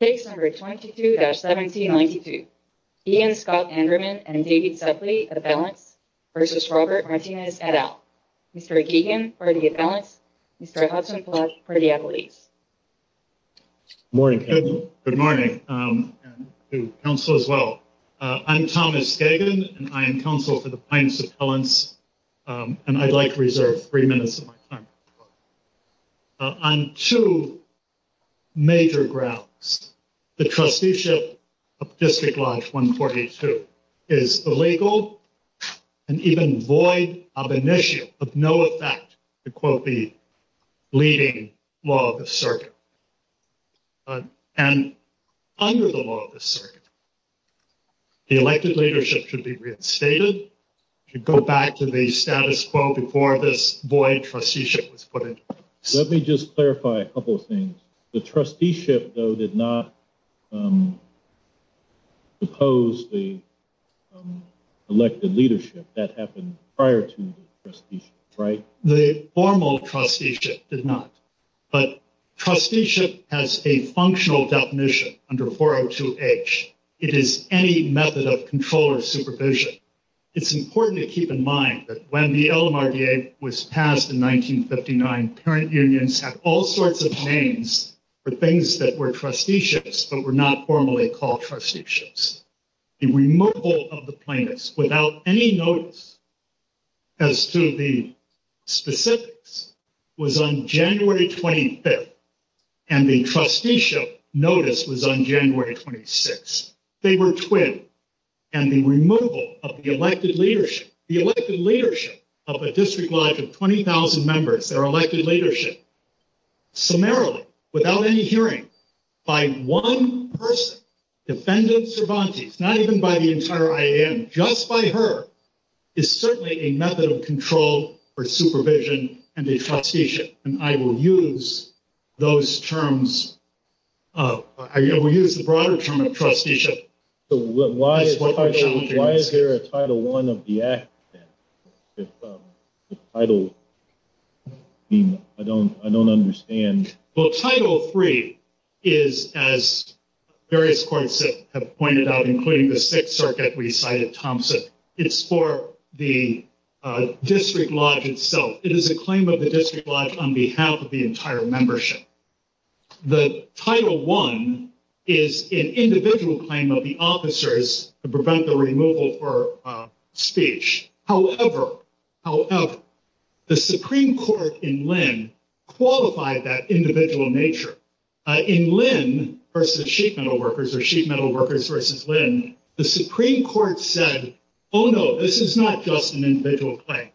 Mr. Geoghegan for the appellants, Mr. Hudson-Platte for the appellees. Good morning. Good morning to counsel as well. I'm Thomas Geoghegan and I am counsel for the plaintiffs' appellants and I'd like to reserve three minutes of my time. On two major grounds, the trusteeship of District Lodge 142 is illegal and even void of an issue of no effect to quote the leading law of the circuit. And under the law of the circuit, the elected leadership should be reinstated, should go back to the status quo before this void trusteeship was put in place. Let me just clarify a couple of things. The trusteeship, though, did not impose the elected leadership. That happened prior to the trusteeship, right? The formal trusteeship did not. But trusteeship has a functional definition under 402H. It is any method of control or supervision. It's important to keep in mind that when the LMRDA was passed in 1959, parent unions had all sorts of names for things that were trusteeships but were not formally called trusteeships. The removal of the plaintiffs without any notice as to the specifics was on January 25th and the trusteeship notice was on January 26th. They were twin. And the removal of the elected leadership, the elected leadership of a District Lodge of 20,000 members, their elected leadership, summarily without any hearing by one person, defendant Cervantes, not even by the entire IAM, just by her, is certainly a method of control or supervision and a trusteeship. And I will use those terms. I will use the broader term of trusteeship. Why is there a Title I of the act? I don't understand. Well, Title III is, as various courts have pointed out, including the Sixth Circuit, we cited Thompson, it's for the District Lodge itself. It is a claim of the District Lodge on behalf of the entire membership. The Title I is an individual claim of the officers to prevent the removal for speech. However, the Supreme Court in Lynn qualified that individual nature. In Lynn versus Sheet Metal Workers or Sheet Metal Workers versus Lynn, the Supreme Court said, oh, no, this is not just an individual claim.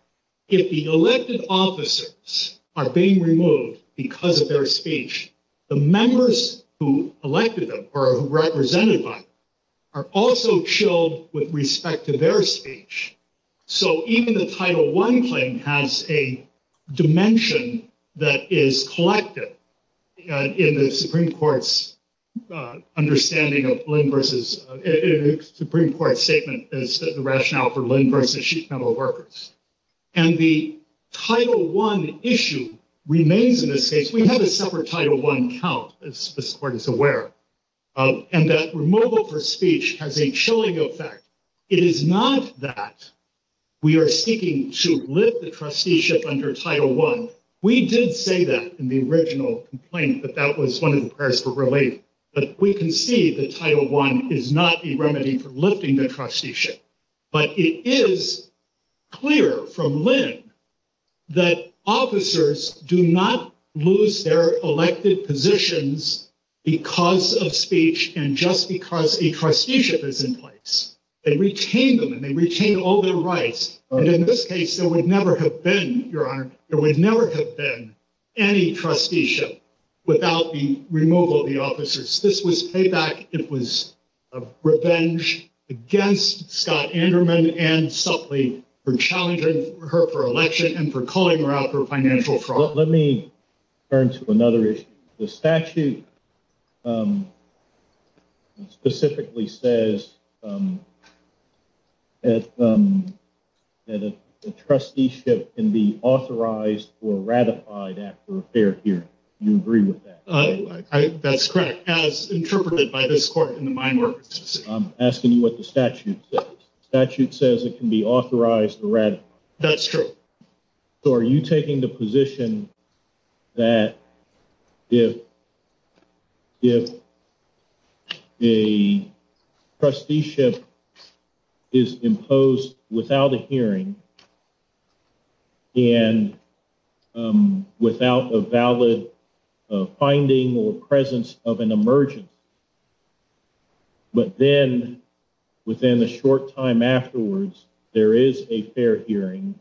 If the elected officers are being removed because of their speech, the members who elected them or represented by them are also chilled with respect to their speech. So even the Title I claim has a dimension that is collected in the Supreme Court's understanding of Lynn versus, the Supreme Court's statement is the rationale for Lynn versus Sheet Metal Workers. And the Title I issue remains in this case. We have a separate Title I count, as this Court is aware of, and that removal for speech has a chilling effect. It is not that we are seeking to lift the trusteeship under Title I. We did say that in the original complaint, that that was one of the prayers for relief. But we can see that Title I is not a remedy for lifting the trusteeship. But it is clear from Lynn that officers do not lose their elected positions because of speech and just because a trusteeship is in place. They retain them and they retain all their rights. And in this case, there would never have been, Your Honor, there would never have been any trusteeship without the removal of the officers. This was payback. It was revenge against Scott Anderman and Supley for challenging her for election and for calling her out for financial fraud. Let me turn to another issue. The statute specifically says that a trusteeship can be authorized or ratified after a fair hearing. Do you agree with that? That's correct. As interpreted by this Court in the mind work. I'm asking you what the statute says. The statute says it can be authorized or ratified. That's true. Are you taking the position that if the trusteeship is imposed without a hearing and without a valid finding or presence of an emergent. But then within a short time afterwards, there is a fair hearing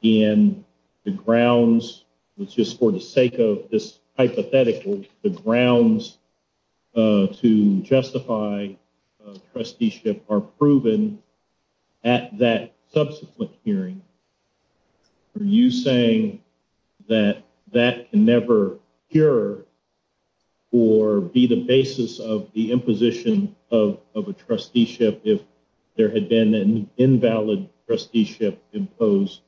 in the grounds, which is for the sake of this hypothetical, the grounds to justify trusteeship are proven at that subsequent hearing. Are you saying that that can never cure or be the basis of the imposition of a trusteeship if there had been an invalid trusteeship imposed?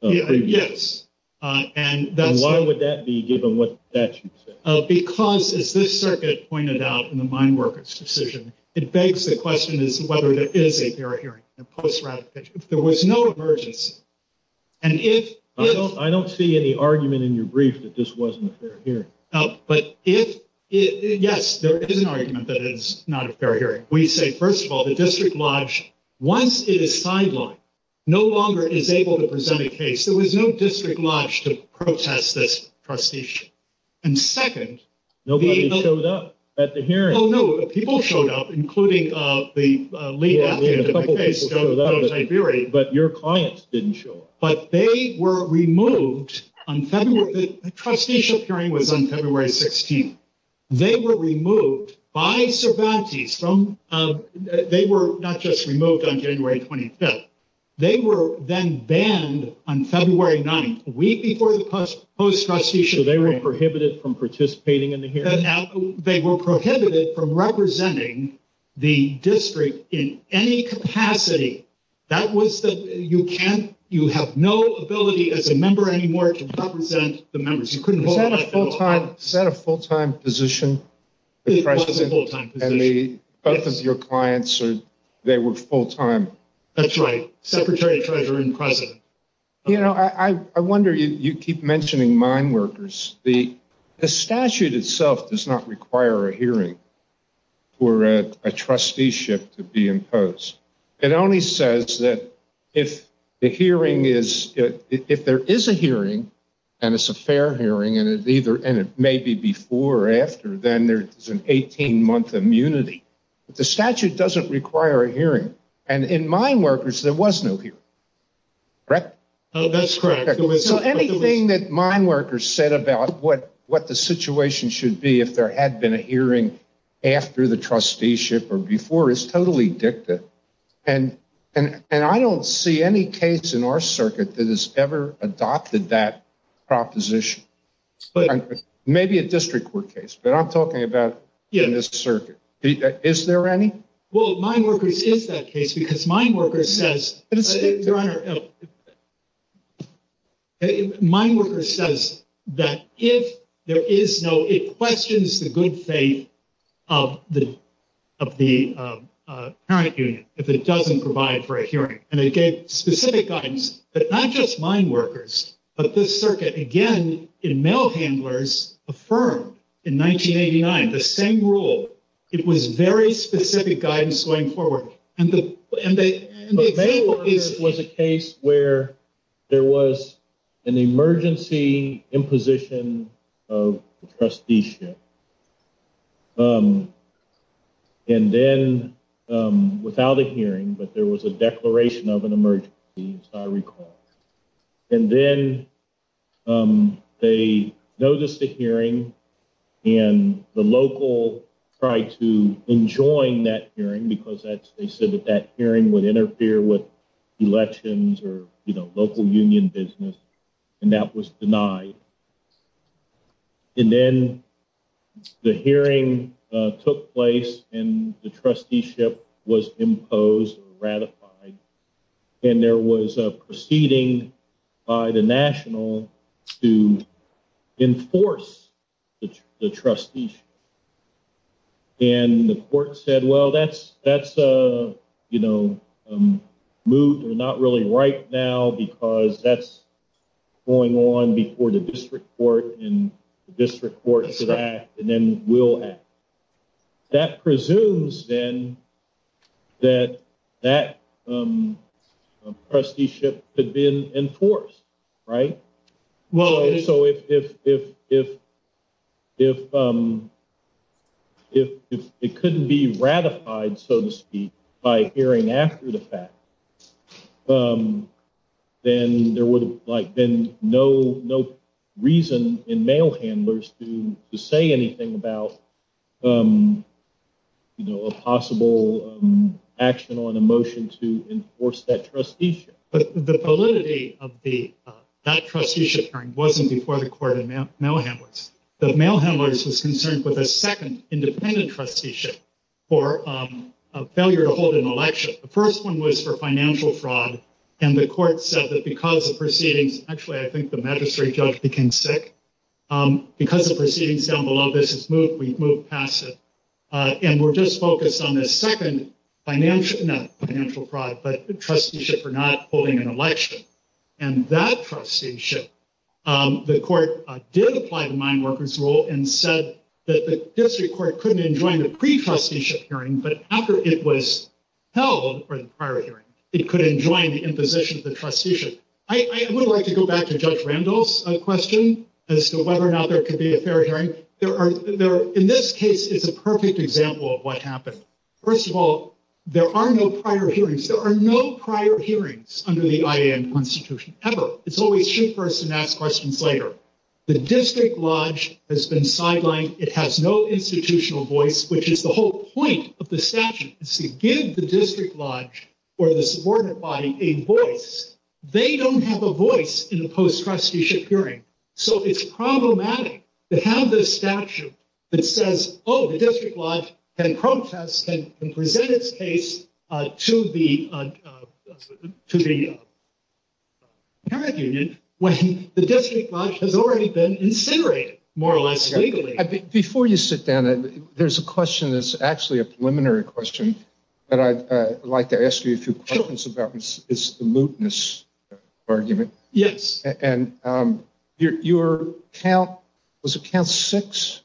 Yes. And why would that be given what the statute says? Because as this circuit pointed out in the mind workers decision, it begs the question is whether there is a fair hearing. There was no emergence. And if I don't see any argument in your brief that this wasn't here. But if yes, there is an argument that is not a fair hearing. We say, first of all, the district lodge, once it is sidelined, no longer is able to present a case. There was no district lodge to protest this trusteeship. And second, nobody showed up at the hearing. People showed up, including the lead. But your clients didn't show up. But they were removed on February. The trusteeship hearing was on February 16th. They were removed by Cervantes. They were not just removed on January 25th. They were then banned on February 9th, a week before the post trusteeship. So they were prohibited from participating in the hearing? They were prohibited from representing the district in any capacity. That was the, you can't, you have no ability as a member anymore to represent the members. Is that a full-time position? It was a full-time position. And both of your clients, they were full-time? That's right. Secretary, treasurer, and president. You know, I wonder, you keep mentioning mind workers. The statute itself does not require a hearing for a trusteeship to be imposed. It only says that if the hearing is, if there is a hearing, and it's a fair hearing, and it may be before or after, then there's an 18-month immunity. But the statute doesn't require a hearing. And in mind workers, there was no hearing. Correct? That's correct. So anything that mind workers said about what the situation should be if there had been a hearing after the trusteeship or before is totally dicta. And I don't see any case in our circuit that has ever adopted that proposition. Maybe a district court case, but I'm talking about in this circuit. Is there any? Well, mind workers is that case because mind workers says, Your Honor, mind workers says that if there is no, it questions the good faith of the parent union, if it doesn't provide for a hearing. And it gave specific guidance that not just mind workers, but this circuit, again, in mail handlers affirmed in 1989 the same rule. It was very specific guidance going forward. Mind workers was a case where there was an emergency imposition of trusteeship. And then without a hearing, but there was a declaration of an emergency, as I recall. And then they noticed the hearing and the local tried to enjoin that hearing because they said that that hearing would interfere with elections or local union business. And that was denied. And then the hearing took place and the trusteeship was imposed or ratified. And there was a proceeding by the national to enforce the trusteeship. And the court said, well, that's, that's a, you know, moved or not really right now because that's going on before the district court and the district court should act and then will act. That presumes then that that trusteeship had been enforced, right? Well, so if it couldn't be ratified, so to speak, by hearing after the fact, then there would have been no reason in mail handlers to say anything about, you know, a possible action on a motion to enforce that trusteeship. But the validity of that trusteeship hearing wasn't before the court and mail handlers. The mail handlers was concerned with a second independent trusteeship for a failure to hold an election. The first one was for financial fraud. And the court said that because of proceedings, actually, I think the magistrate judge became sick because of proceedings down below. This is moved. We've moved past it. And we're just focused on this second financial fraud, but the trusteeship for not holding an election and that trusteeship. The court did apply to mineworkers rule and said that the district court couldn't enjoin the pre trusteeship hearing, but after it was held or the prior hearing, it could enjoin the imposition of the trusteeship. I would like to go back to Judge Randall's question as to whether or not there could be a fair hearing. In this case, it's a perfect example of what happened. First of all, there are no prior hearings. There are no prior hearings under the IAM constitution ever. It's always shoot first and ask questions later. The district lodge has been sidelined. It has no institutional voice, which is the whole point of the statute is to give the district lodge or the subordinate body a voice. They don't have a voice in the post trusteeship hearing. So it's problematic to have this statute that says, oh, the district lodge can protest and present its case to the, to the parent union when the district lodge has already been incinerated, more or less legally. Before you sit down, there's a question that's actually a preliminary question that I'd like to ask you a few questions about is the mootness argument. Yes. And your account was account six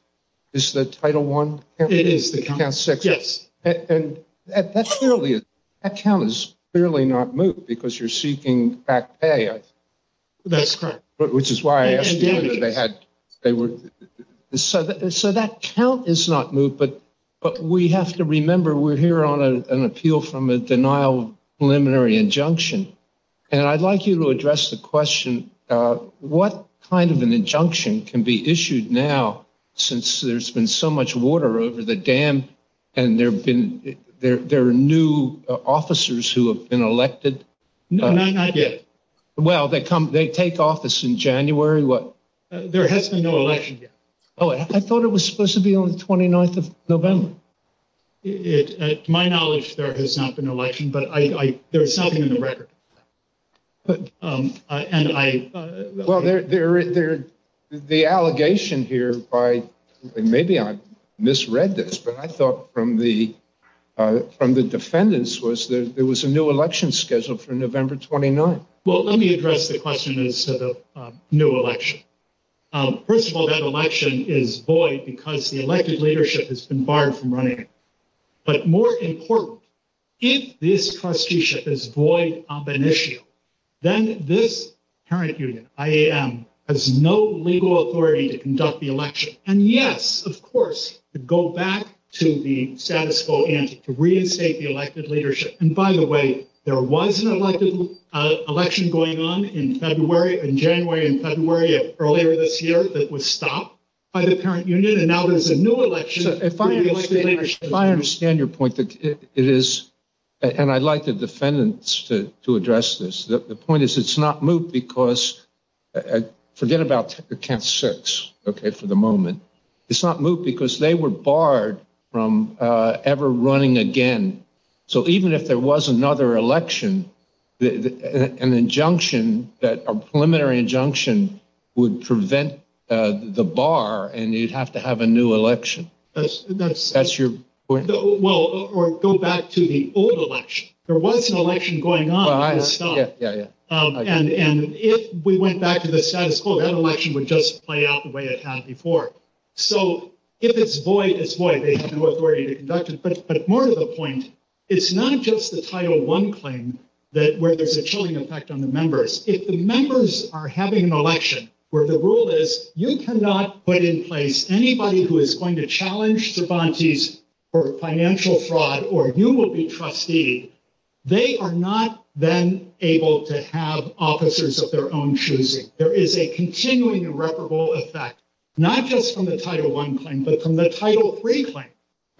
is the title one. It is the count six. Yes. And that's clearly account is clearly not moot because you're seeking back pay. That's correct. Which is why they had, they were so, so that count is not moot, but, but we have to remember we're here on a, an appeal from a denial preliminary injunction. And I'd like you to address the question. What kind of an injunction can be issued now, since there's been so much water over the dam and there've been there, there are new officers who have been elected. No, not yet. Well, they come, they take office in January. What there has been no election yet. Oh, I thought it was supposed to be on the 29th of November. It, to my knowledge, there has not been an election, but I, there's something in the record. And I, well, there, there, there, the allegation here by maybe I misread this, but I thought from the from the defendants was there, there was a new election scheduled for November 29th. Well, let me address the question is to the new election. First of all, that election is void because the elected leadership has been barred from running. But more important, if this cost you ship is void, I'm an issue. Then this current union, I am, has no legal authority to conduct the election. And yes, of course, to go back to the status quo and to reinstate the elected leadership. And by the way, there was an elective election going on in February and January and February of earlier this year, that was stopped by the parent union. And now there's a new election. I understand your point. It is. And I'd like the defendants to, to address this. The point is it's not moved because. Forget about the camp six. Okay. For the moment. It's not moved because they were barred from ever running again. So even if there was another election, an injunction that a preliminary injunction would prevent. The bar and you'd have to have a new election. That's that's that's your point. Well, or go back to the old election. There was an election going on. Yeah. And if we went back to the status quo, that election would just play out the way it had before. So if it's void, it's void. They have no authority to conduct it. But, but more to the point. It's not just the title one claim. That where there's a chilling effect on the members. If the members are having an election where the rule is, you cannot put in place anybody who is going to challenge the bounties. Or financial fraud, or you will be trustee. They are not then able to have officers of their own choosing. There is a continuing irreparable effect. Not just from the title one claim, but from the title three claim.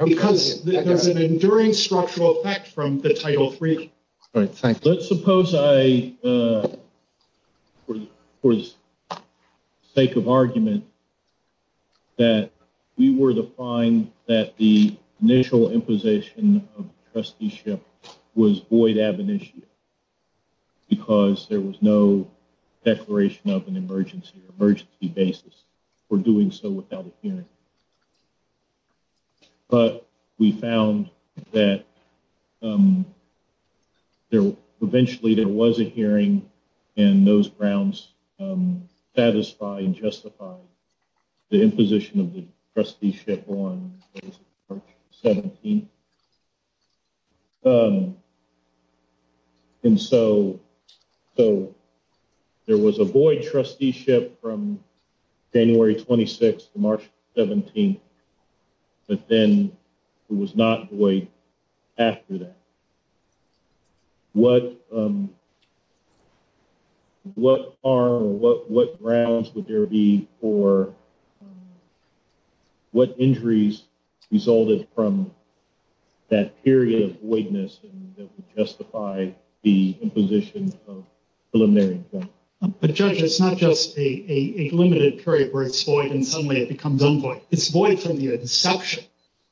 Because there's an enduring structural effect from the title three. All right. Let's suppose I was sake of argument. That we were to find that the initial imposition of trusteeship was void ab initio. Because there was no declaration of an emergency or emergency basis. For doing so without a hearing. But we found that. Eventually there was a hearing. And those grounds. Satisfy and justify. The imposition of the trusteeship on. 17. And so. So there was a void trusteeship from. January 26th, March 17th. But then. It was not. After that. What. What are. What grounds would there be for. What injuries. Resulted from. That period of weakness. Justify. The imposition. But judge, it's not just a limited period. And suddenly it becomes. It's void from the inception.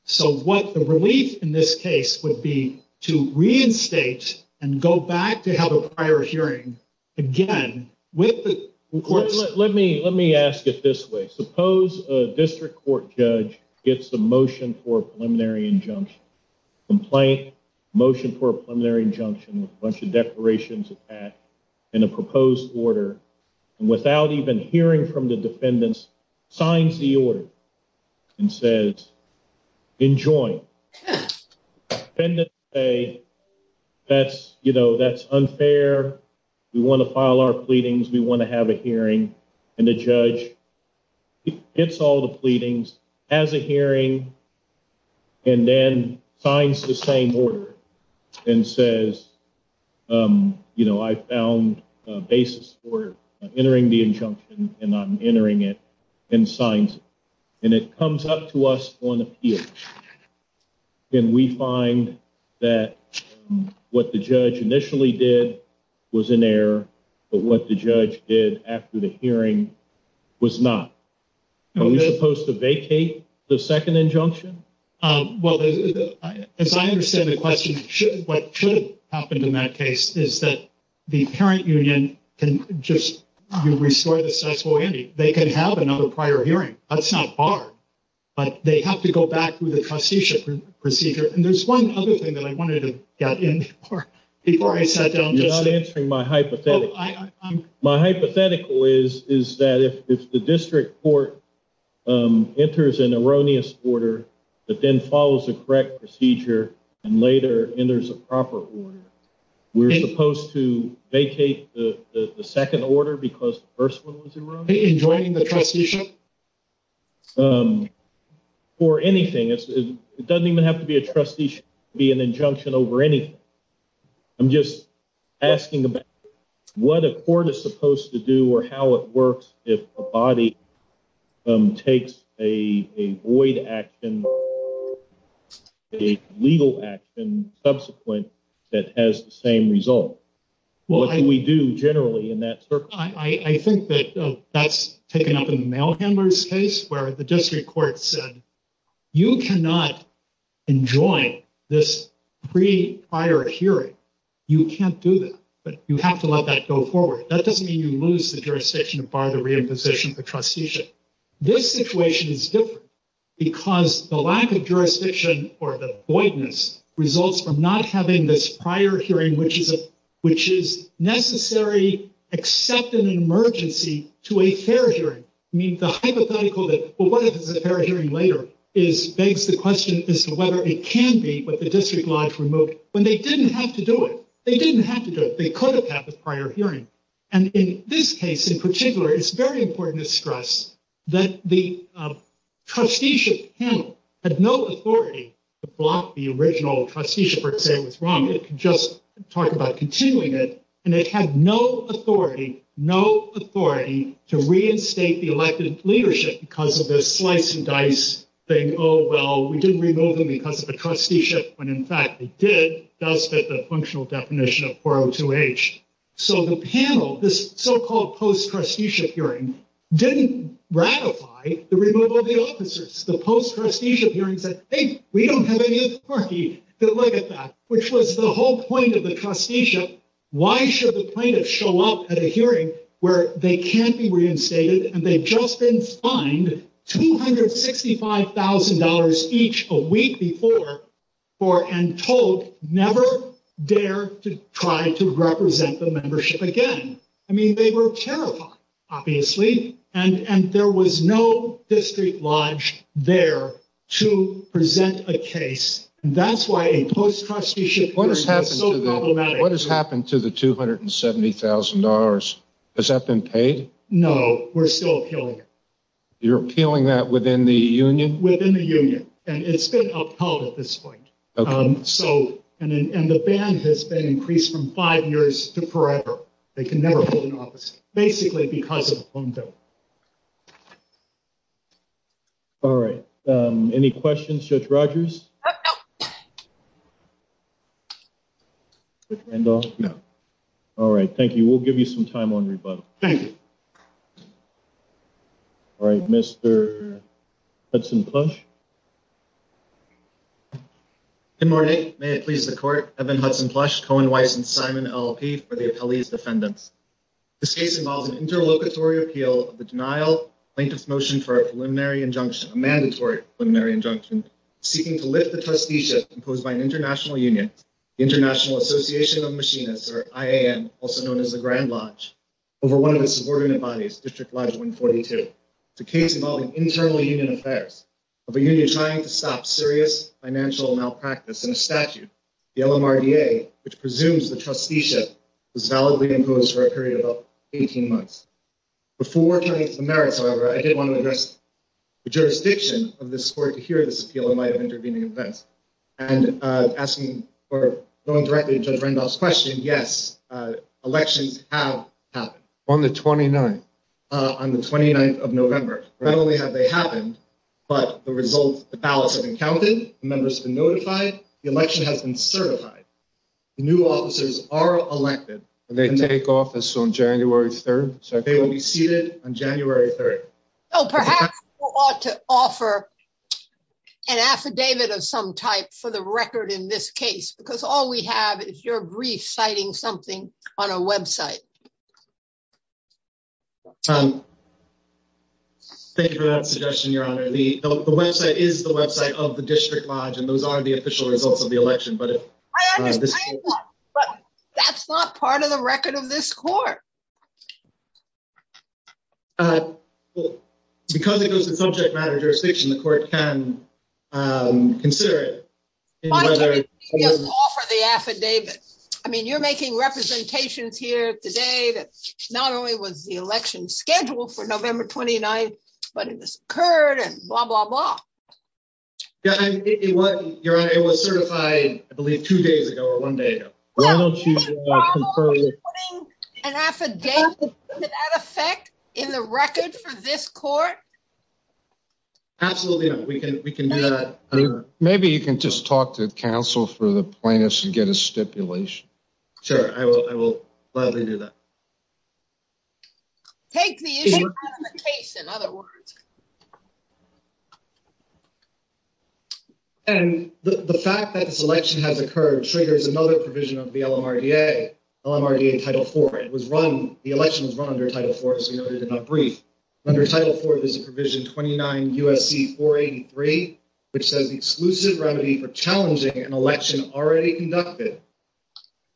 So what the relief in this case would be. To reinstate. And go back to have a prior hearing. Again, with. Let me, let me ask it this way. Suppose a district court judge. It's the motion for preliminary injunction. Complaint. Motion for a preliminary injunction. A bunch of declarations. In a proposed order. And without even hearing from the defendants. Signs the order. And says. Enjoy. That's you know, that's unfair. We want to file our pleadings. We want to have a hearing. And the judge. It's all the pleadings. As a hearing. And then signs the same order. And says. You know, I found a basis for. Entering the injunction and I'm entering it. And signs. And it comes up to us on the field. And we find that. What the judge initially did. Was in there. But what the judge did after the hearing. Was not. Supposed to vacate the second injunction. Well, as I understand the question. What should have happened in that case is that. The parent union. Can just. Restore the. They can have another prior hearing. That's not. But they have to go back through the trusteeship. Procedure and there's one other thing that I wanted to get in. I'm sorry. Before I said. You're not answering my hypothetical. My hypothetical is, is that if the district court. Enters an erroneous order. But then follows the correct procedure. And later in there's a proper. We're supposed to vacate the second order because. I'm sorry. The first one was. In joining the trusteeship. For anything. It doesn't even have to be a trustee. Be an injunction over anything. I'm just. Asking. What a court is supposed to do or how it works. If a body. Takes a void action. Legal action subsequent. That has the same result. Well, we do generally in that. I think that. That's taken up in the mail handlers case where the district court said. You cannot. Enjoy this. Pre prior hearing. You can't do that. But you have to let that go forward. That doesn't mean you lose the jurisdiction to bar the reimposition. The trusteeship. This situation is different. Because the lack of jurisdiction or the. The lack of a fair hearing. The lack of a fair hearing. The lack of a fair hearing. Results from not having this prior hearing, which is. Which is necessary. Accept an emergency to a fair hearing. I mean, the hypothetical that. Well, what is the fair hearing later? Is begs the question as to whether it can be. But the district lodge removed when they didn't have to do it. They didn't have to do it. They could have had the prior hearing. And in this case in particular, it's very important to stress. That the. Trusteeship. At no authority. The block, the original trusteeship. It was wrong. Just talk about continuing it. And it had no authority. No authority to reinstate the elected leadership. Because of this slice and dice. Oh, well, we didn't remove them because of the trusteeship. When in fact, it did. That's the functional definition of. So the panel. This so-called post trusteeship hearing. Didn't ratify the removal of the officers. The post trusteeship hearing said. Hey, we don't have any authority to look at that. Which was the whole point of the trusteeship. Why should the plaintiff show up at a hearing? Where they can't be reinstated. And they've just been fined. $265,000 each a week before. Or and told never. Dare to try to represent the membership again. I mean, they were terrified. Obviously. And there was no district lodge there to present a case. And that's why a post trusteeship. What has happened to the $270,000? Has that been paid? No, we're still appealing. You're appealing that within the union. Within the union. And it's been upheld at this point. So, and the band has been increased from five years to forever. They can never hold an office. Basically because of the phone bill. All right. Any questions? Judge Rogers. No. All right. Thank you. We'll give you some time on rebuttal. Thank you. All right. Mr. Hudson plush. Good morning. May it please the court. I've been Hudson plush Cohen Weiss and Simon LP for the appellees defendants. This case involves an interlocutory appeal. The denial plaintiff's motion for a preliminary injunction. Mandatory preliminary injunction. Seeking to lift the trusteeship imposed by an international union. International Association of machinists. I am also known as the grand lodge. Over one of the subordinate bodies district lodge 142. The case involving internal union affairs. I'm a member of a union trying to stop serious financial malpractice in a statute. The LMRDA, which presumes the trusteeship. Is validly imposed for a period of 18 months. Before the merits, however, I did want to address. The jurisdiction of this court to hear this appeal and might have intervening events. And asking or going directly to judge Randolph's question. Yes. Elections have happened on the 29th. On the 29th of November. And they will be held on January 3rd. Not only have they happened. But the results. The ballots have been counted. Members have been notified. The election has been certified. New officers are elected. And they take office on January 3rd. So they will be seated on January 3rd. Oh, perhaps. To offer. An affidavit of some type for the record in this case, because all we have is your brief citing something on a website. Thank you for that suggestion. Your honor. The website is the website of the district lodge. And those are the official results of the election. But if. That's not part of the record of this court. I don't know. Because it goes to subject matter jurisdiction, the court can. Consider it. The affidavit. I mean, you're making representations here today. Not only was the election schedule for November 29th. But it occurred and blah, blah, blah. Yeah. You're right. It was certified. I believe two days ago or one day. An affidavit. In the record for this court. Absolutely. We can, we can do that. Maybe you can just talk to counsel for the plaintiffs and get a stipulation. Sure. I will. I will gladly do that. Take the issue. In other words. And the fact that this election has occurred triggers another provision of the LMRDA. LMRDA title four. It was run. The election was run under title four. As you noted in that brief. Under title four, there's a provision. 29 USC for 83. Which says the exclusive remedy for challenging an election. Already conducted.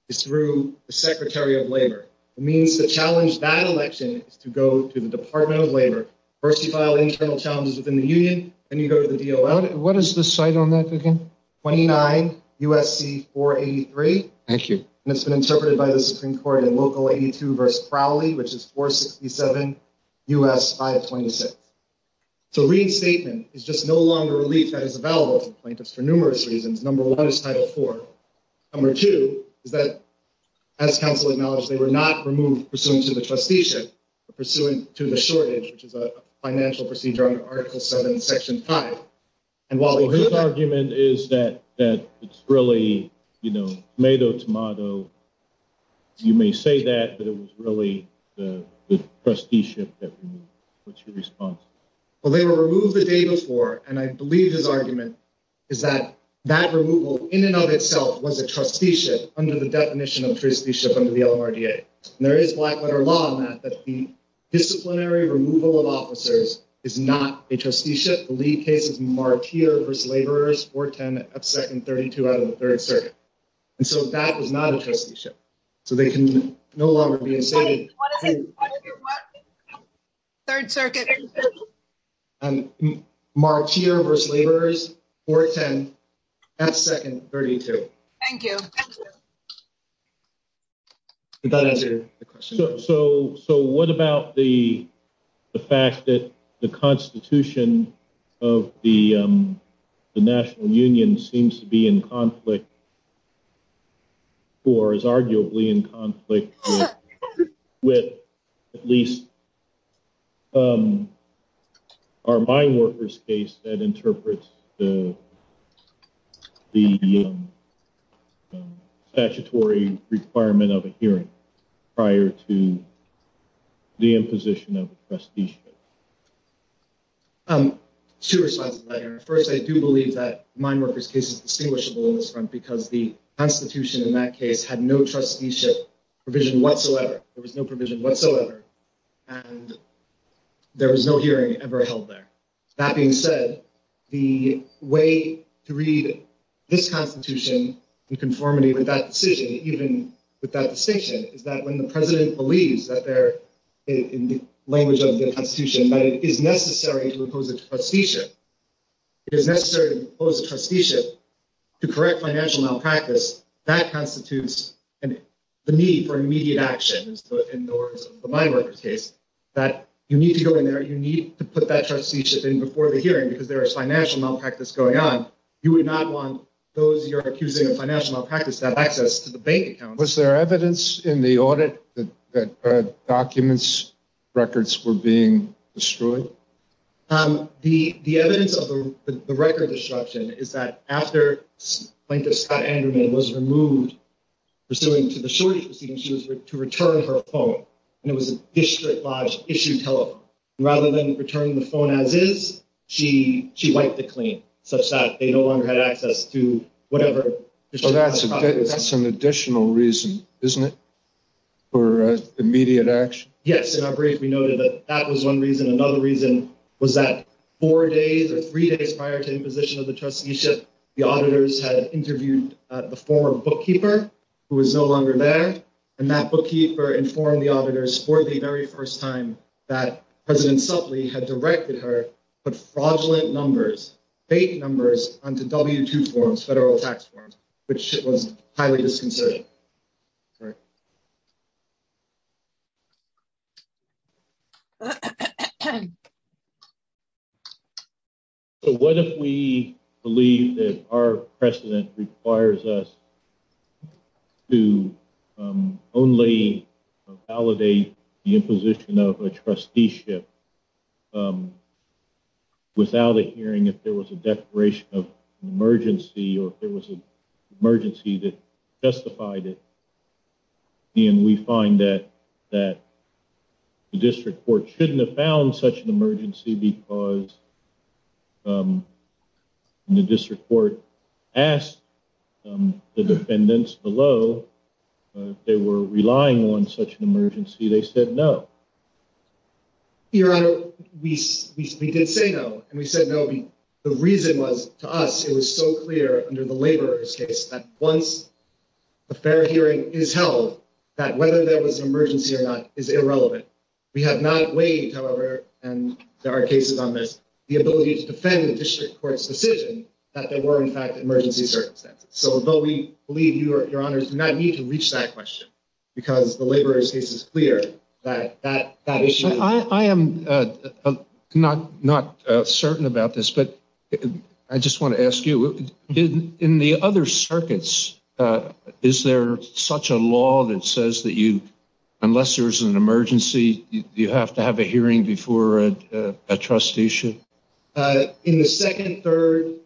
Is through the secretary of labor. It means the challenge that election is to go to the department of labor. First, you file internal challenges within the union. And you go to the deal. What is the site on that? Again, 29 USC for 83. Thank you. And it's been interpreted by the Supreme court and local 82 verse Crowley, which is four 67. Us 526. So read statement is just no longer relief that is available to plaintiffs for numerous reasons. Number one is title four. Number two is that. As counsel acknowledged, they were not removed pursuant to the trusteeship. Pursuant to the shortage, which is a financial procedure. Article seven, section five. And while his argument is that, that it's really. You know, tomato, tomato. You may say that, but it was really the trusteeship. What's your response. Well, they were removed the day before. And I believe his argument. Is that that removal in and of itself was a trusteeship under the definition of trusteeship under the LRDA. And there is black letter law on that, that the disciplinary removal of officers is not a trusteeship. The lead case is marked here versus laborers for 10 second, 32 out of the third circuit. And so that was not a trusteeship. So they can no longer be. Third circuit. So, so what about the. The fact that the constitution. Of the. The national union seems to be in conflict. With at least. Our mind workers case that interprets. The. Statutory requirement of a hearing. Prior to. The imposition of trusteeship. Two responses. First, I do believe that mine workers cases. Because the constitution in that case had no trusteeship. Provision whatsoever. There was no provision whatsoever. And there was no hearing ever held there. That being said. The way to read. This constitution. And conformity with that decision, even with that distinction. Is that when the president believes that they're. In the language of the constitution. It is necessary to impose a trusteeship. It is necessary to impose a trusteeship. To correct financial malpractice that constitutes. And the need for immediate actions. That you need to go in there. You need to put that trusteeship in before the hearing. Because there is financial malpractice going on. You would not want those. You're accusing of financial malpractice that access to the bank. Was there evidence in the audit? That documents. Records were being destroyed. The, the evidence of the record disruption. Is that after. The plaintiff Scott Anderman was removed. Pursuing to the shortage. She was to return her phone. And it was a district lodge issue. Rather than returning the phone as is. She, she wiped the clean. Such that they no longer had access to whatever. That's an additional reason, isn't it? For immediate action. Yes. And I briefly noted that that was one reason. Another reason was that. Four days or three days prior to imposition of the trusteeship. The auditors had interviewed the former bookkeeper. Who is no longer there. And that bookkeeper informed the auditors for the very first time. That president something had directed her. But fraudulent numbers. Fake numbers onto W2 forms, federal tax forms. Which was highly disconcerting. Okay. Sorry. So what if we believe that our precedent requires us. To. Only. The imposition of a trusteeship. Without a hearing, if there was a declaration of emergency. There was an emergency that. Justified it. And we find that. That. The district court shouldn't have found such an emergency. Because. The district court. The defendants below. They were relying on such an emergency. They said, no. Your honor, we did say no. And we said, no. The reason was to us. It was so clear under the laborers case. Once. A fair hearing is held. That whether there was an emergency or not is irrelevant. We have not weighed, however. And there are cases on this. The ability to defend the district court's decision. That there were in fact, emergency circumstances. So, though, we believe your honors do not need to reach that question. Because the laborers case is clear that, that, that. I am. Not, not certain about this, but. I just want to ask you. In the other circuits. Is there such a law that says that you. Unless there's an emergency, you have to have a hearing before. A trustee should. In the second, third.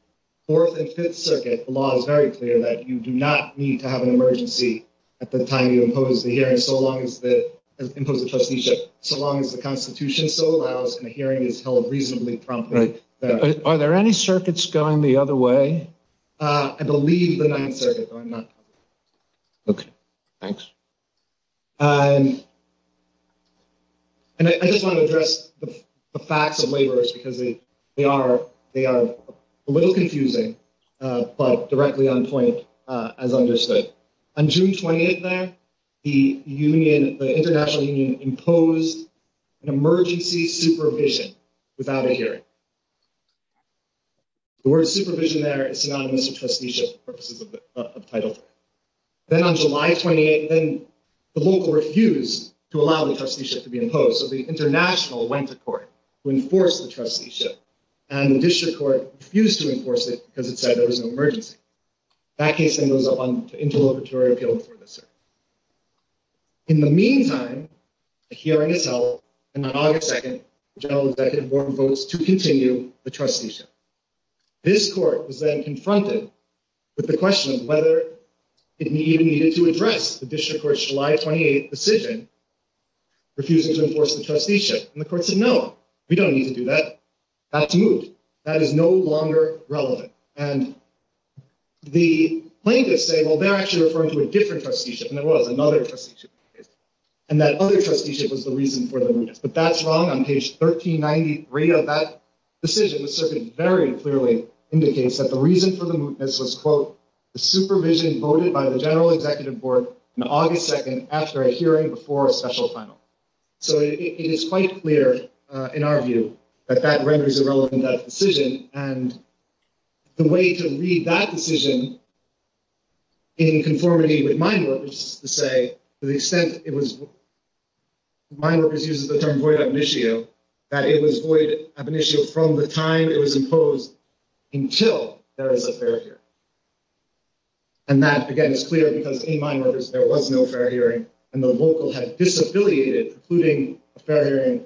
Fourth and fifth circuit law is very clear that you do not need to have an emergency to impose the hearing. So long as the impose the trusteeship. So long as the constitution still allows. And the hearing is held reasonably promptly. Are there any circuits going the other way? I believe the 9th circuit. Okay. Thanks. And. And I just want to address the facts of laborers because they, they are. They are a little confusing. But directly on point as understood. On June 28th, there. The union, the international union imposed. Emergency supervision. Without a hearing. The word supervision there is synonymous with trusteeship purposes of title. Then on July 28, then. The local refused to allow the trusteeship to be imposed. So the international went to court. To enforce the trusteeship. And the district court used to enforce it because it said there was no emergency. That case then goes up on interlocutory appeal for the circuit. In the meantime. The hearing is held. And on August 2nd, general executive board votes to continue the trusteeship. This court is then confronted. With the question of whether. It needed to address the district court, July 28 decision. Refusing to enforce the trusteeship and the courts of Noah. We don't need to do that. That's moved. That is no longer relevant and. The plaintiffs say, well, they're actually referring to a different trusteeship. And there was another procedure. And that other trusteeship was the reason for them. But that's wrong. I'm page 1393 of that. The decision was certainly very clearly. Indicates that the reason for the movement. This was quote. The supervision voted by the general executive board. In August 2nd, after a hearing before a special final. So it is quite clear. In our view. That that renders irrelevant that decision and. The way to read that decision. In conformity with my work. To say to the extent it was. Mine workers uses the term void of an issue. That it was void of an issue from the time it was imposed. Until there was a fair here. And that again is clear because in my numbers, there was no fair hearing. And the vocal had disaffiliated, including a fair hearing.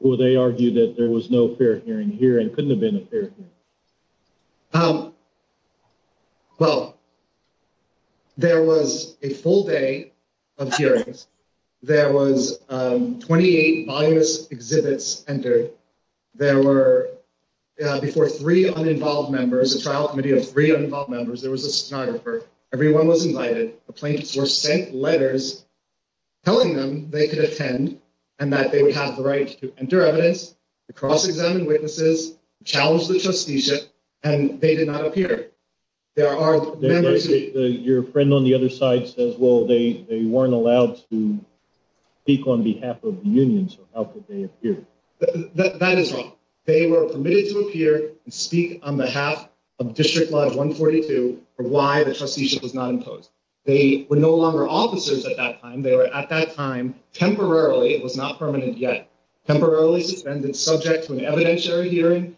Well, they argue that there was no fair hearing here and couldn't have been a fair. Well. There was a full day. Of hearings. There was 28. Exhibits entered. There were. Before three uninvolved members, a trial committee of three involved members, there was a sonographer. Everyone was invited. The plaintiffs were sent letters. To the district attorney's office. Telling them they could attend. And that they would have the right to enter evidence. Cross examine witnesses. Challenge the trusteeship. And they did not appear. There are. Your friend on the other side says, well, they, they weren't allowed. Speak on behalf of the union. So how could they appear? That is wrong. They were permitted to appear and speak on behalf. Of district law. 142. Why the trusteeship was not imposed. They were no longer officers at that time. They were at that time. Temporarily. It was not permanent yet. Temporarily suspended subject to an evidentiary hearing.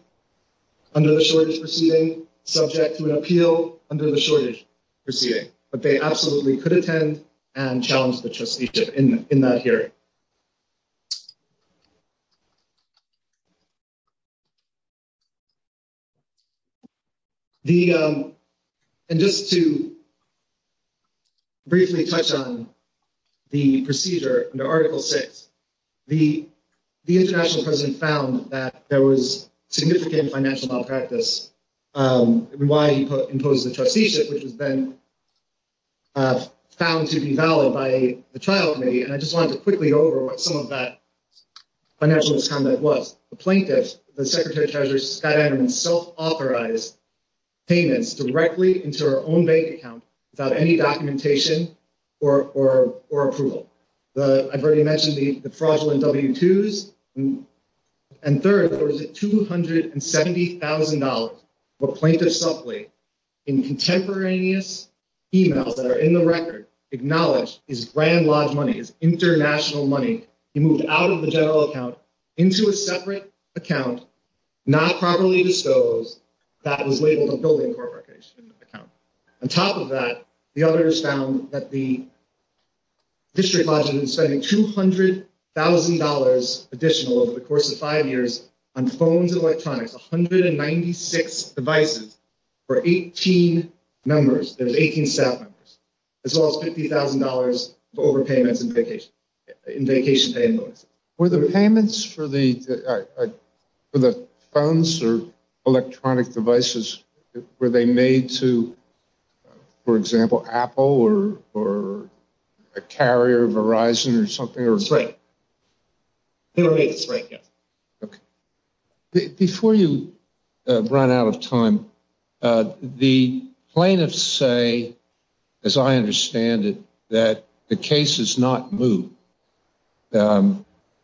Under the shortage proceeding. Subject to an appeal. Under the shortage. Proceeding, but they absolutely could attend. And challenge the trusteeship in, in that hearing. The. And just to. Briefly touch on. The procedure and article six. The, the international president found that there was. Significant financial malpractice. Why do you put impose the trusteeship, which has been. Found to be valid by the trial committee. And I just wanted to quickly go over what some of that. Financial discount that was the plaintiff. The secretary treasurer Scott and himself authorized. Payments directly into our own bank account. Without any documentation. Or, or, or approval. I've already mentioned the fraudulent W2s. And third, there was a $270,000. Account. In contemporaneous. Emails that are in the record. Acknowledged is grand lodge money is international money. He moved out of the general account. Into a separate account. Not properly disposed. That was labeled a building corporation. On top of that, the others found that the. District spending $200,000 additional over the course of 5 years. On phones and electronics, 196 devices. For 18 numbers, there's 18. As well as $50,000 for overpayments and vacation. In vacation. Were the payments for the. For the phones or electronic devices. Were they made to. For example, Apple or, or. A carrier Verizon or something. Right. It's right. Okay. Before you. Run out of time. The plaintiffs say. As I understand it, that the case is not moved.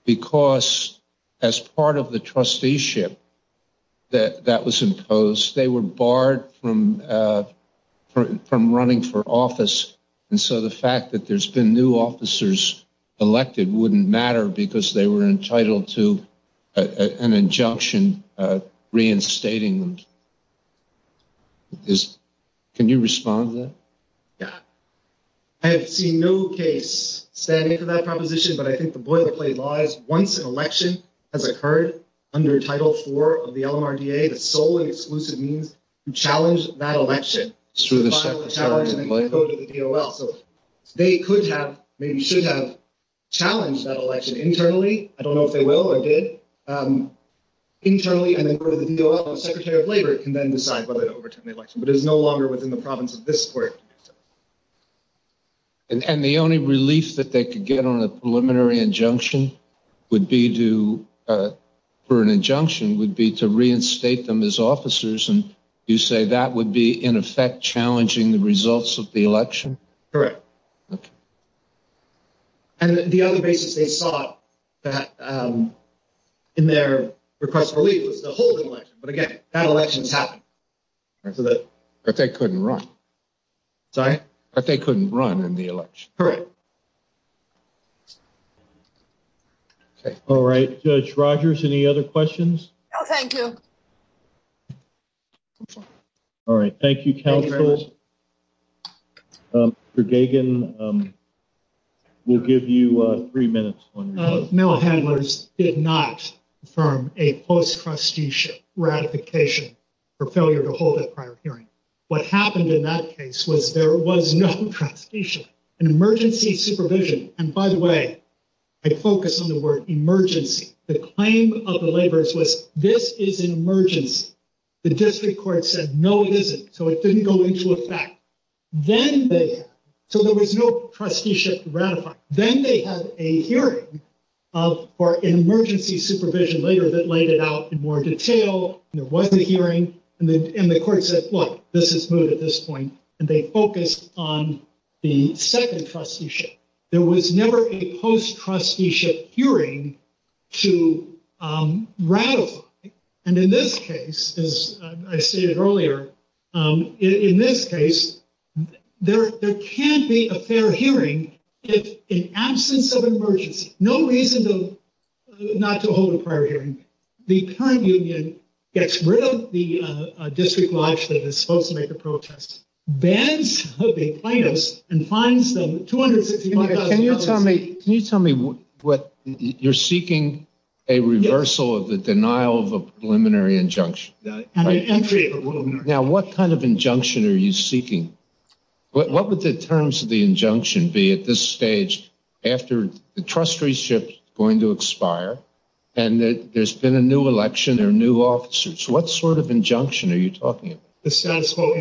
Because as part of the trusteeship. That that was imposed, they were barred from. From running for office. And so the fact that there's been new officers. Elected wouldn't matter because they were entitled to. An injunction. Reinstating them. Can you respond to that? Yeah. I have seen no case. Standing for that proposition, but I think the boilerplate lies. Once an election has occurred. Under title four of the LMRDA. The solely exclusive means. To challenge that election. So. They could have. Maybe should have. Challenged that election internally. I don't know if they will or did. Internally. Secretary of labor can then decide whether to overturn the election. But it's no longer within the province of this court. And the only relief that they could get on a preliminary injunction. Would be to. For an injunction would be to reinstate them as officers. And you say that would be in effect. Challenging the results of the election. Correct. Okay. And the other basis they saw. In their request. But again, that elections happen. So that. But they couldn't run. Sorry, but they couldn't run in the election. Correct. Okay. All right. Judge Rogers. Any other questions? Oh, thank you. All right. Thank you. For Gagan. We'll give you three minutes. Okay. So. The mail handlers did not. From a post trusteeship ratification. For failure to hold a prior hearing. What happened in that case was there was no. An emergency supervision. And by the way. I focus on the word emergency. The claim of the laborers was this is an emergency. The district court said, no, it isn't. So it didn't go into effect. Then they. So there was no trusteeship ratified. Then they had a hearing. Of our emergency supervision later that laid it out in more detail. There wasn't a hearing. And the court said, well, this is good at this point. And they focused on the second trusteeship. There was never a post trusteeship hearing. To ratify. And in this case, as I stated earlier. In this case, there, there can't be a fair hearing. If in absence of emergency, no reason to. Not to hold a prior hearing. The current union. Gets rid of the district. That is supposed to make a protest. Beds. And finds them. Can you tell me. Can you tell me what. You're seeking. A reversal of the denial of a preliminary injunction. Now, what kind of injunction are you seeking? What would the terms of the injunction be at this stage? After the trustee ship going to expire. And there's been a new election or new officers. What sort of injunction are you talking about? The status quo.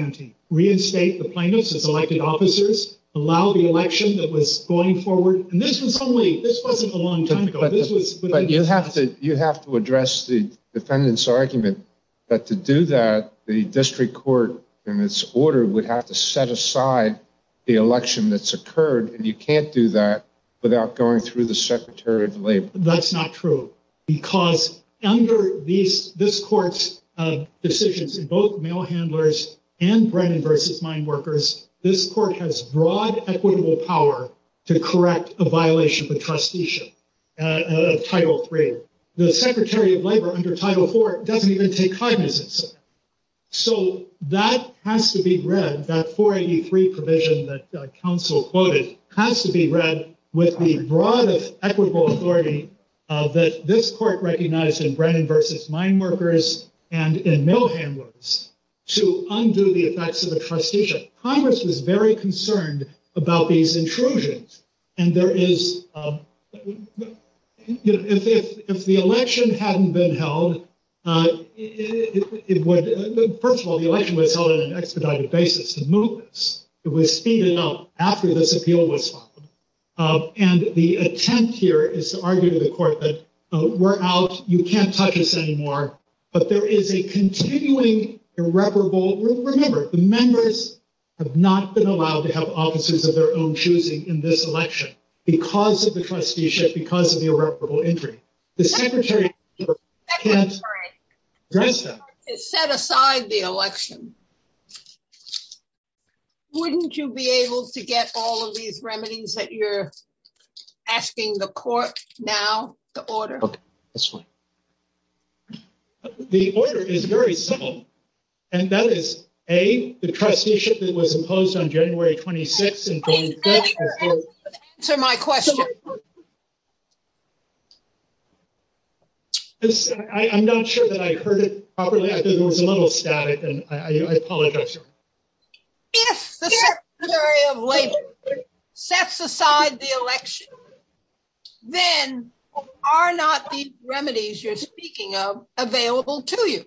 Reinstate the plaintiffs as elected officers. Allow the election that was going forward. And this was only. This wasn't a long time ago. But you have to, you have to address the defendant's argument. That to do that, the district court. And it's ordered, we'd have to set aside. The election that's occurred and you can't do that. Without going through the secretary of labor. That's not true. Because under these, this court's. Decisions in both mail handlers. And Brandon versus mine workers. This court has broad equitable power. To correct a violation of the trustee ship. Title three. The secretary of labor under title four. Doesn't even take cognizance. So that has to be read. That 483 provision that council quoted. Has to be read with the broadest equitable authority. That this court recognized in Brandon versus mine workers. And in mail handlers. To undo the effects of the trustee ship. Congress was very concerned. About these intrusions. And there is. If the election hadn't been held. It would. First of all, the election was held on an expedited basis. The movements. It was speeding up after this appeal was. And the attempt here is to argue to the court. We're out. You can't touch this anymore. But there is a continuing irreparable. Remember the members. Have not been allowed to have offices of their own choosing in this election. Because of the trustee ship, because of the irreparable injury. The secretary. Set aside the election. Wouldn't you be able to get all of these remedies that you're. Asking the court now. The order. That's fine. The order is very simple. And that is a, the trustee ship that was imposed on January 26. To my question. I'm not sure that I heard it properly. I think it was a little static. I apologize. Sets aside the election. Then. Are not the remedies you're speaking of available to you.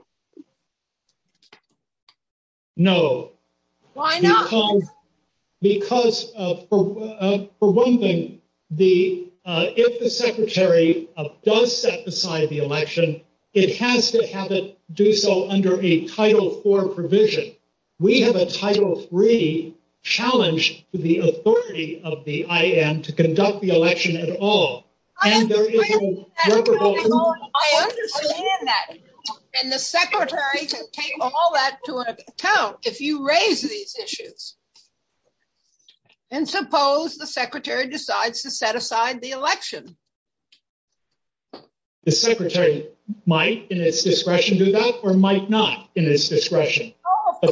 No. Why not? Because. For one thing. The. If the secretary of does set the side of the election. It has to have it do so under a title four provision. We have a title three. Challenge. To the authority of the IM to conduct the election at all. I understand that. And the secretary can take all that to account. If you raise these issues. And suppose the secretary decides to set aside the election. The secretary. Might in its discretion, do that or might not. In this discretion. The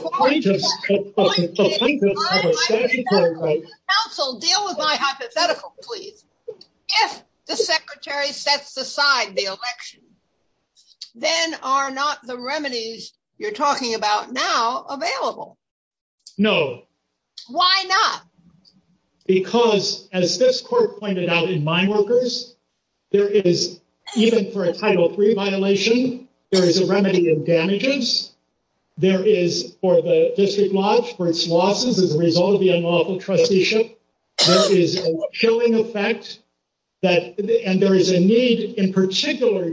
secretary. Deal with my hypothetical, please. If the secretary sets aside the election. Then are not the remedies. You're talking about now available. No. Why not? Because as this court pointed out in mine workers. There is. Even for a title three violation. There is a remedy of damages. There is for the district lodge for its losses. As a result of the unlawful trusteeship. Showing effect. That there is a need in particular.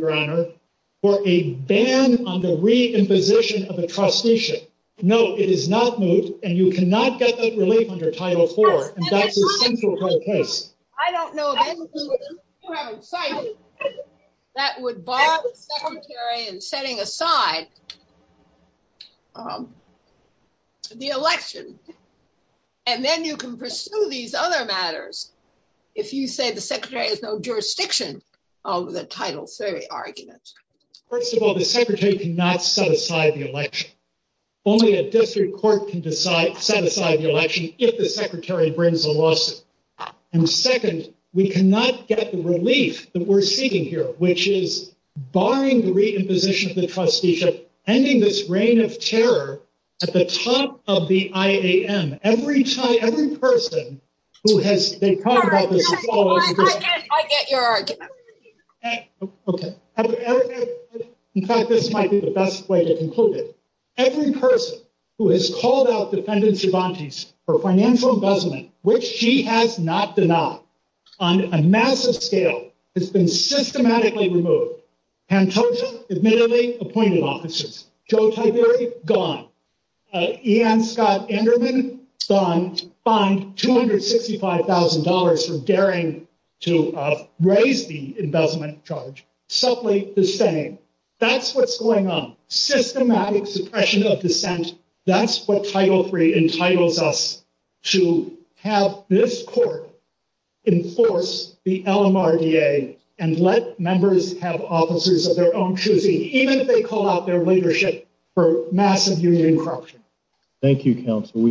For a ban on the re imposition of a trustee ship. No, it is not moved. And you cannot get that relief under title four. I don't know. That would bother. And setting aside. The election. And then you can pursue these other matters. If you say the secretary has no jurisdiction. Oh, the title three argument. First of all, the secretary can not set aside the election. Only a district court can decide set aside the election. If the secretary brings a lawsuit. And second, we cannot get the relief that we're seeking here, which is. Barring the re imposition of the trustee ship. Ending this reign of terror. At the top of the IAM. Every time, every person. Who has. I get your. Okay. In fact, this might be the best way to conclude it. Every person who has called out defendants. For financial investment, which she has not denied. On a massive scale. It's been systematically removed. Admittedly appointed officers. I am Scott. Fund, $265,000 for daring. To raise the investment charge. Supply the same. That's what's going on. Systematic suppression of dissent. That's what title three entitles us. To have this court. Enforce the. And let members have officers of their own. And let members have the freedom to choose. Even if they call out their leadership. For massive union corruption. Thank you counsel.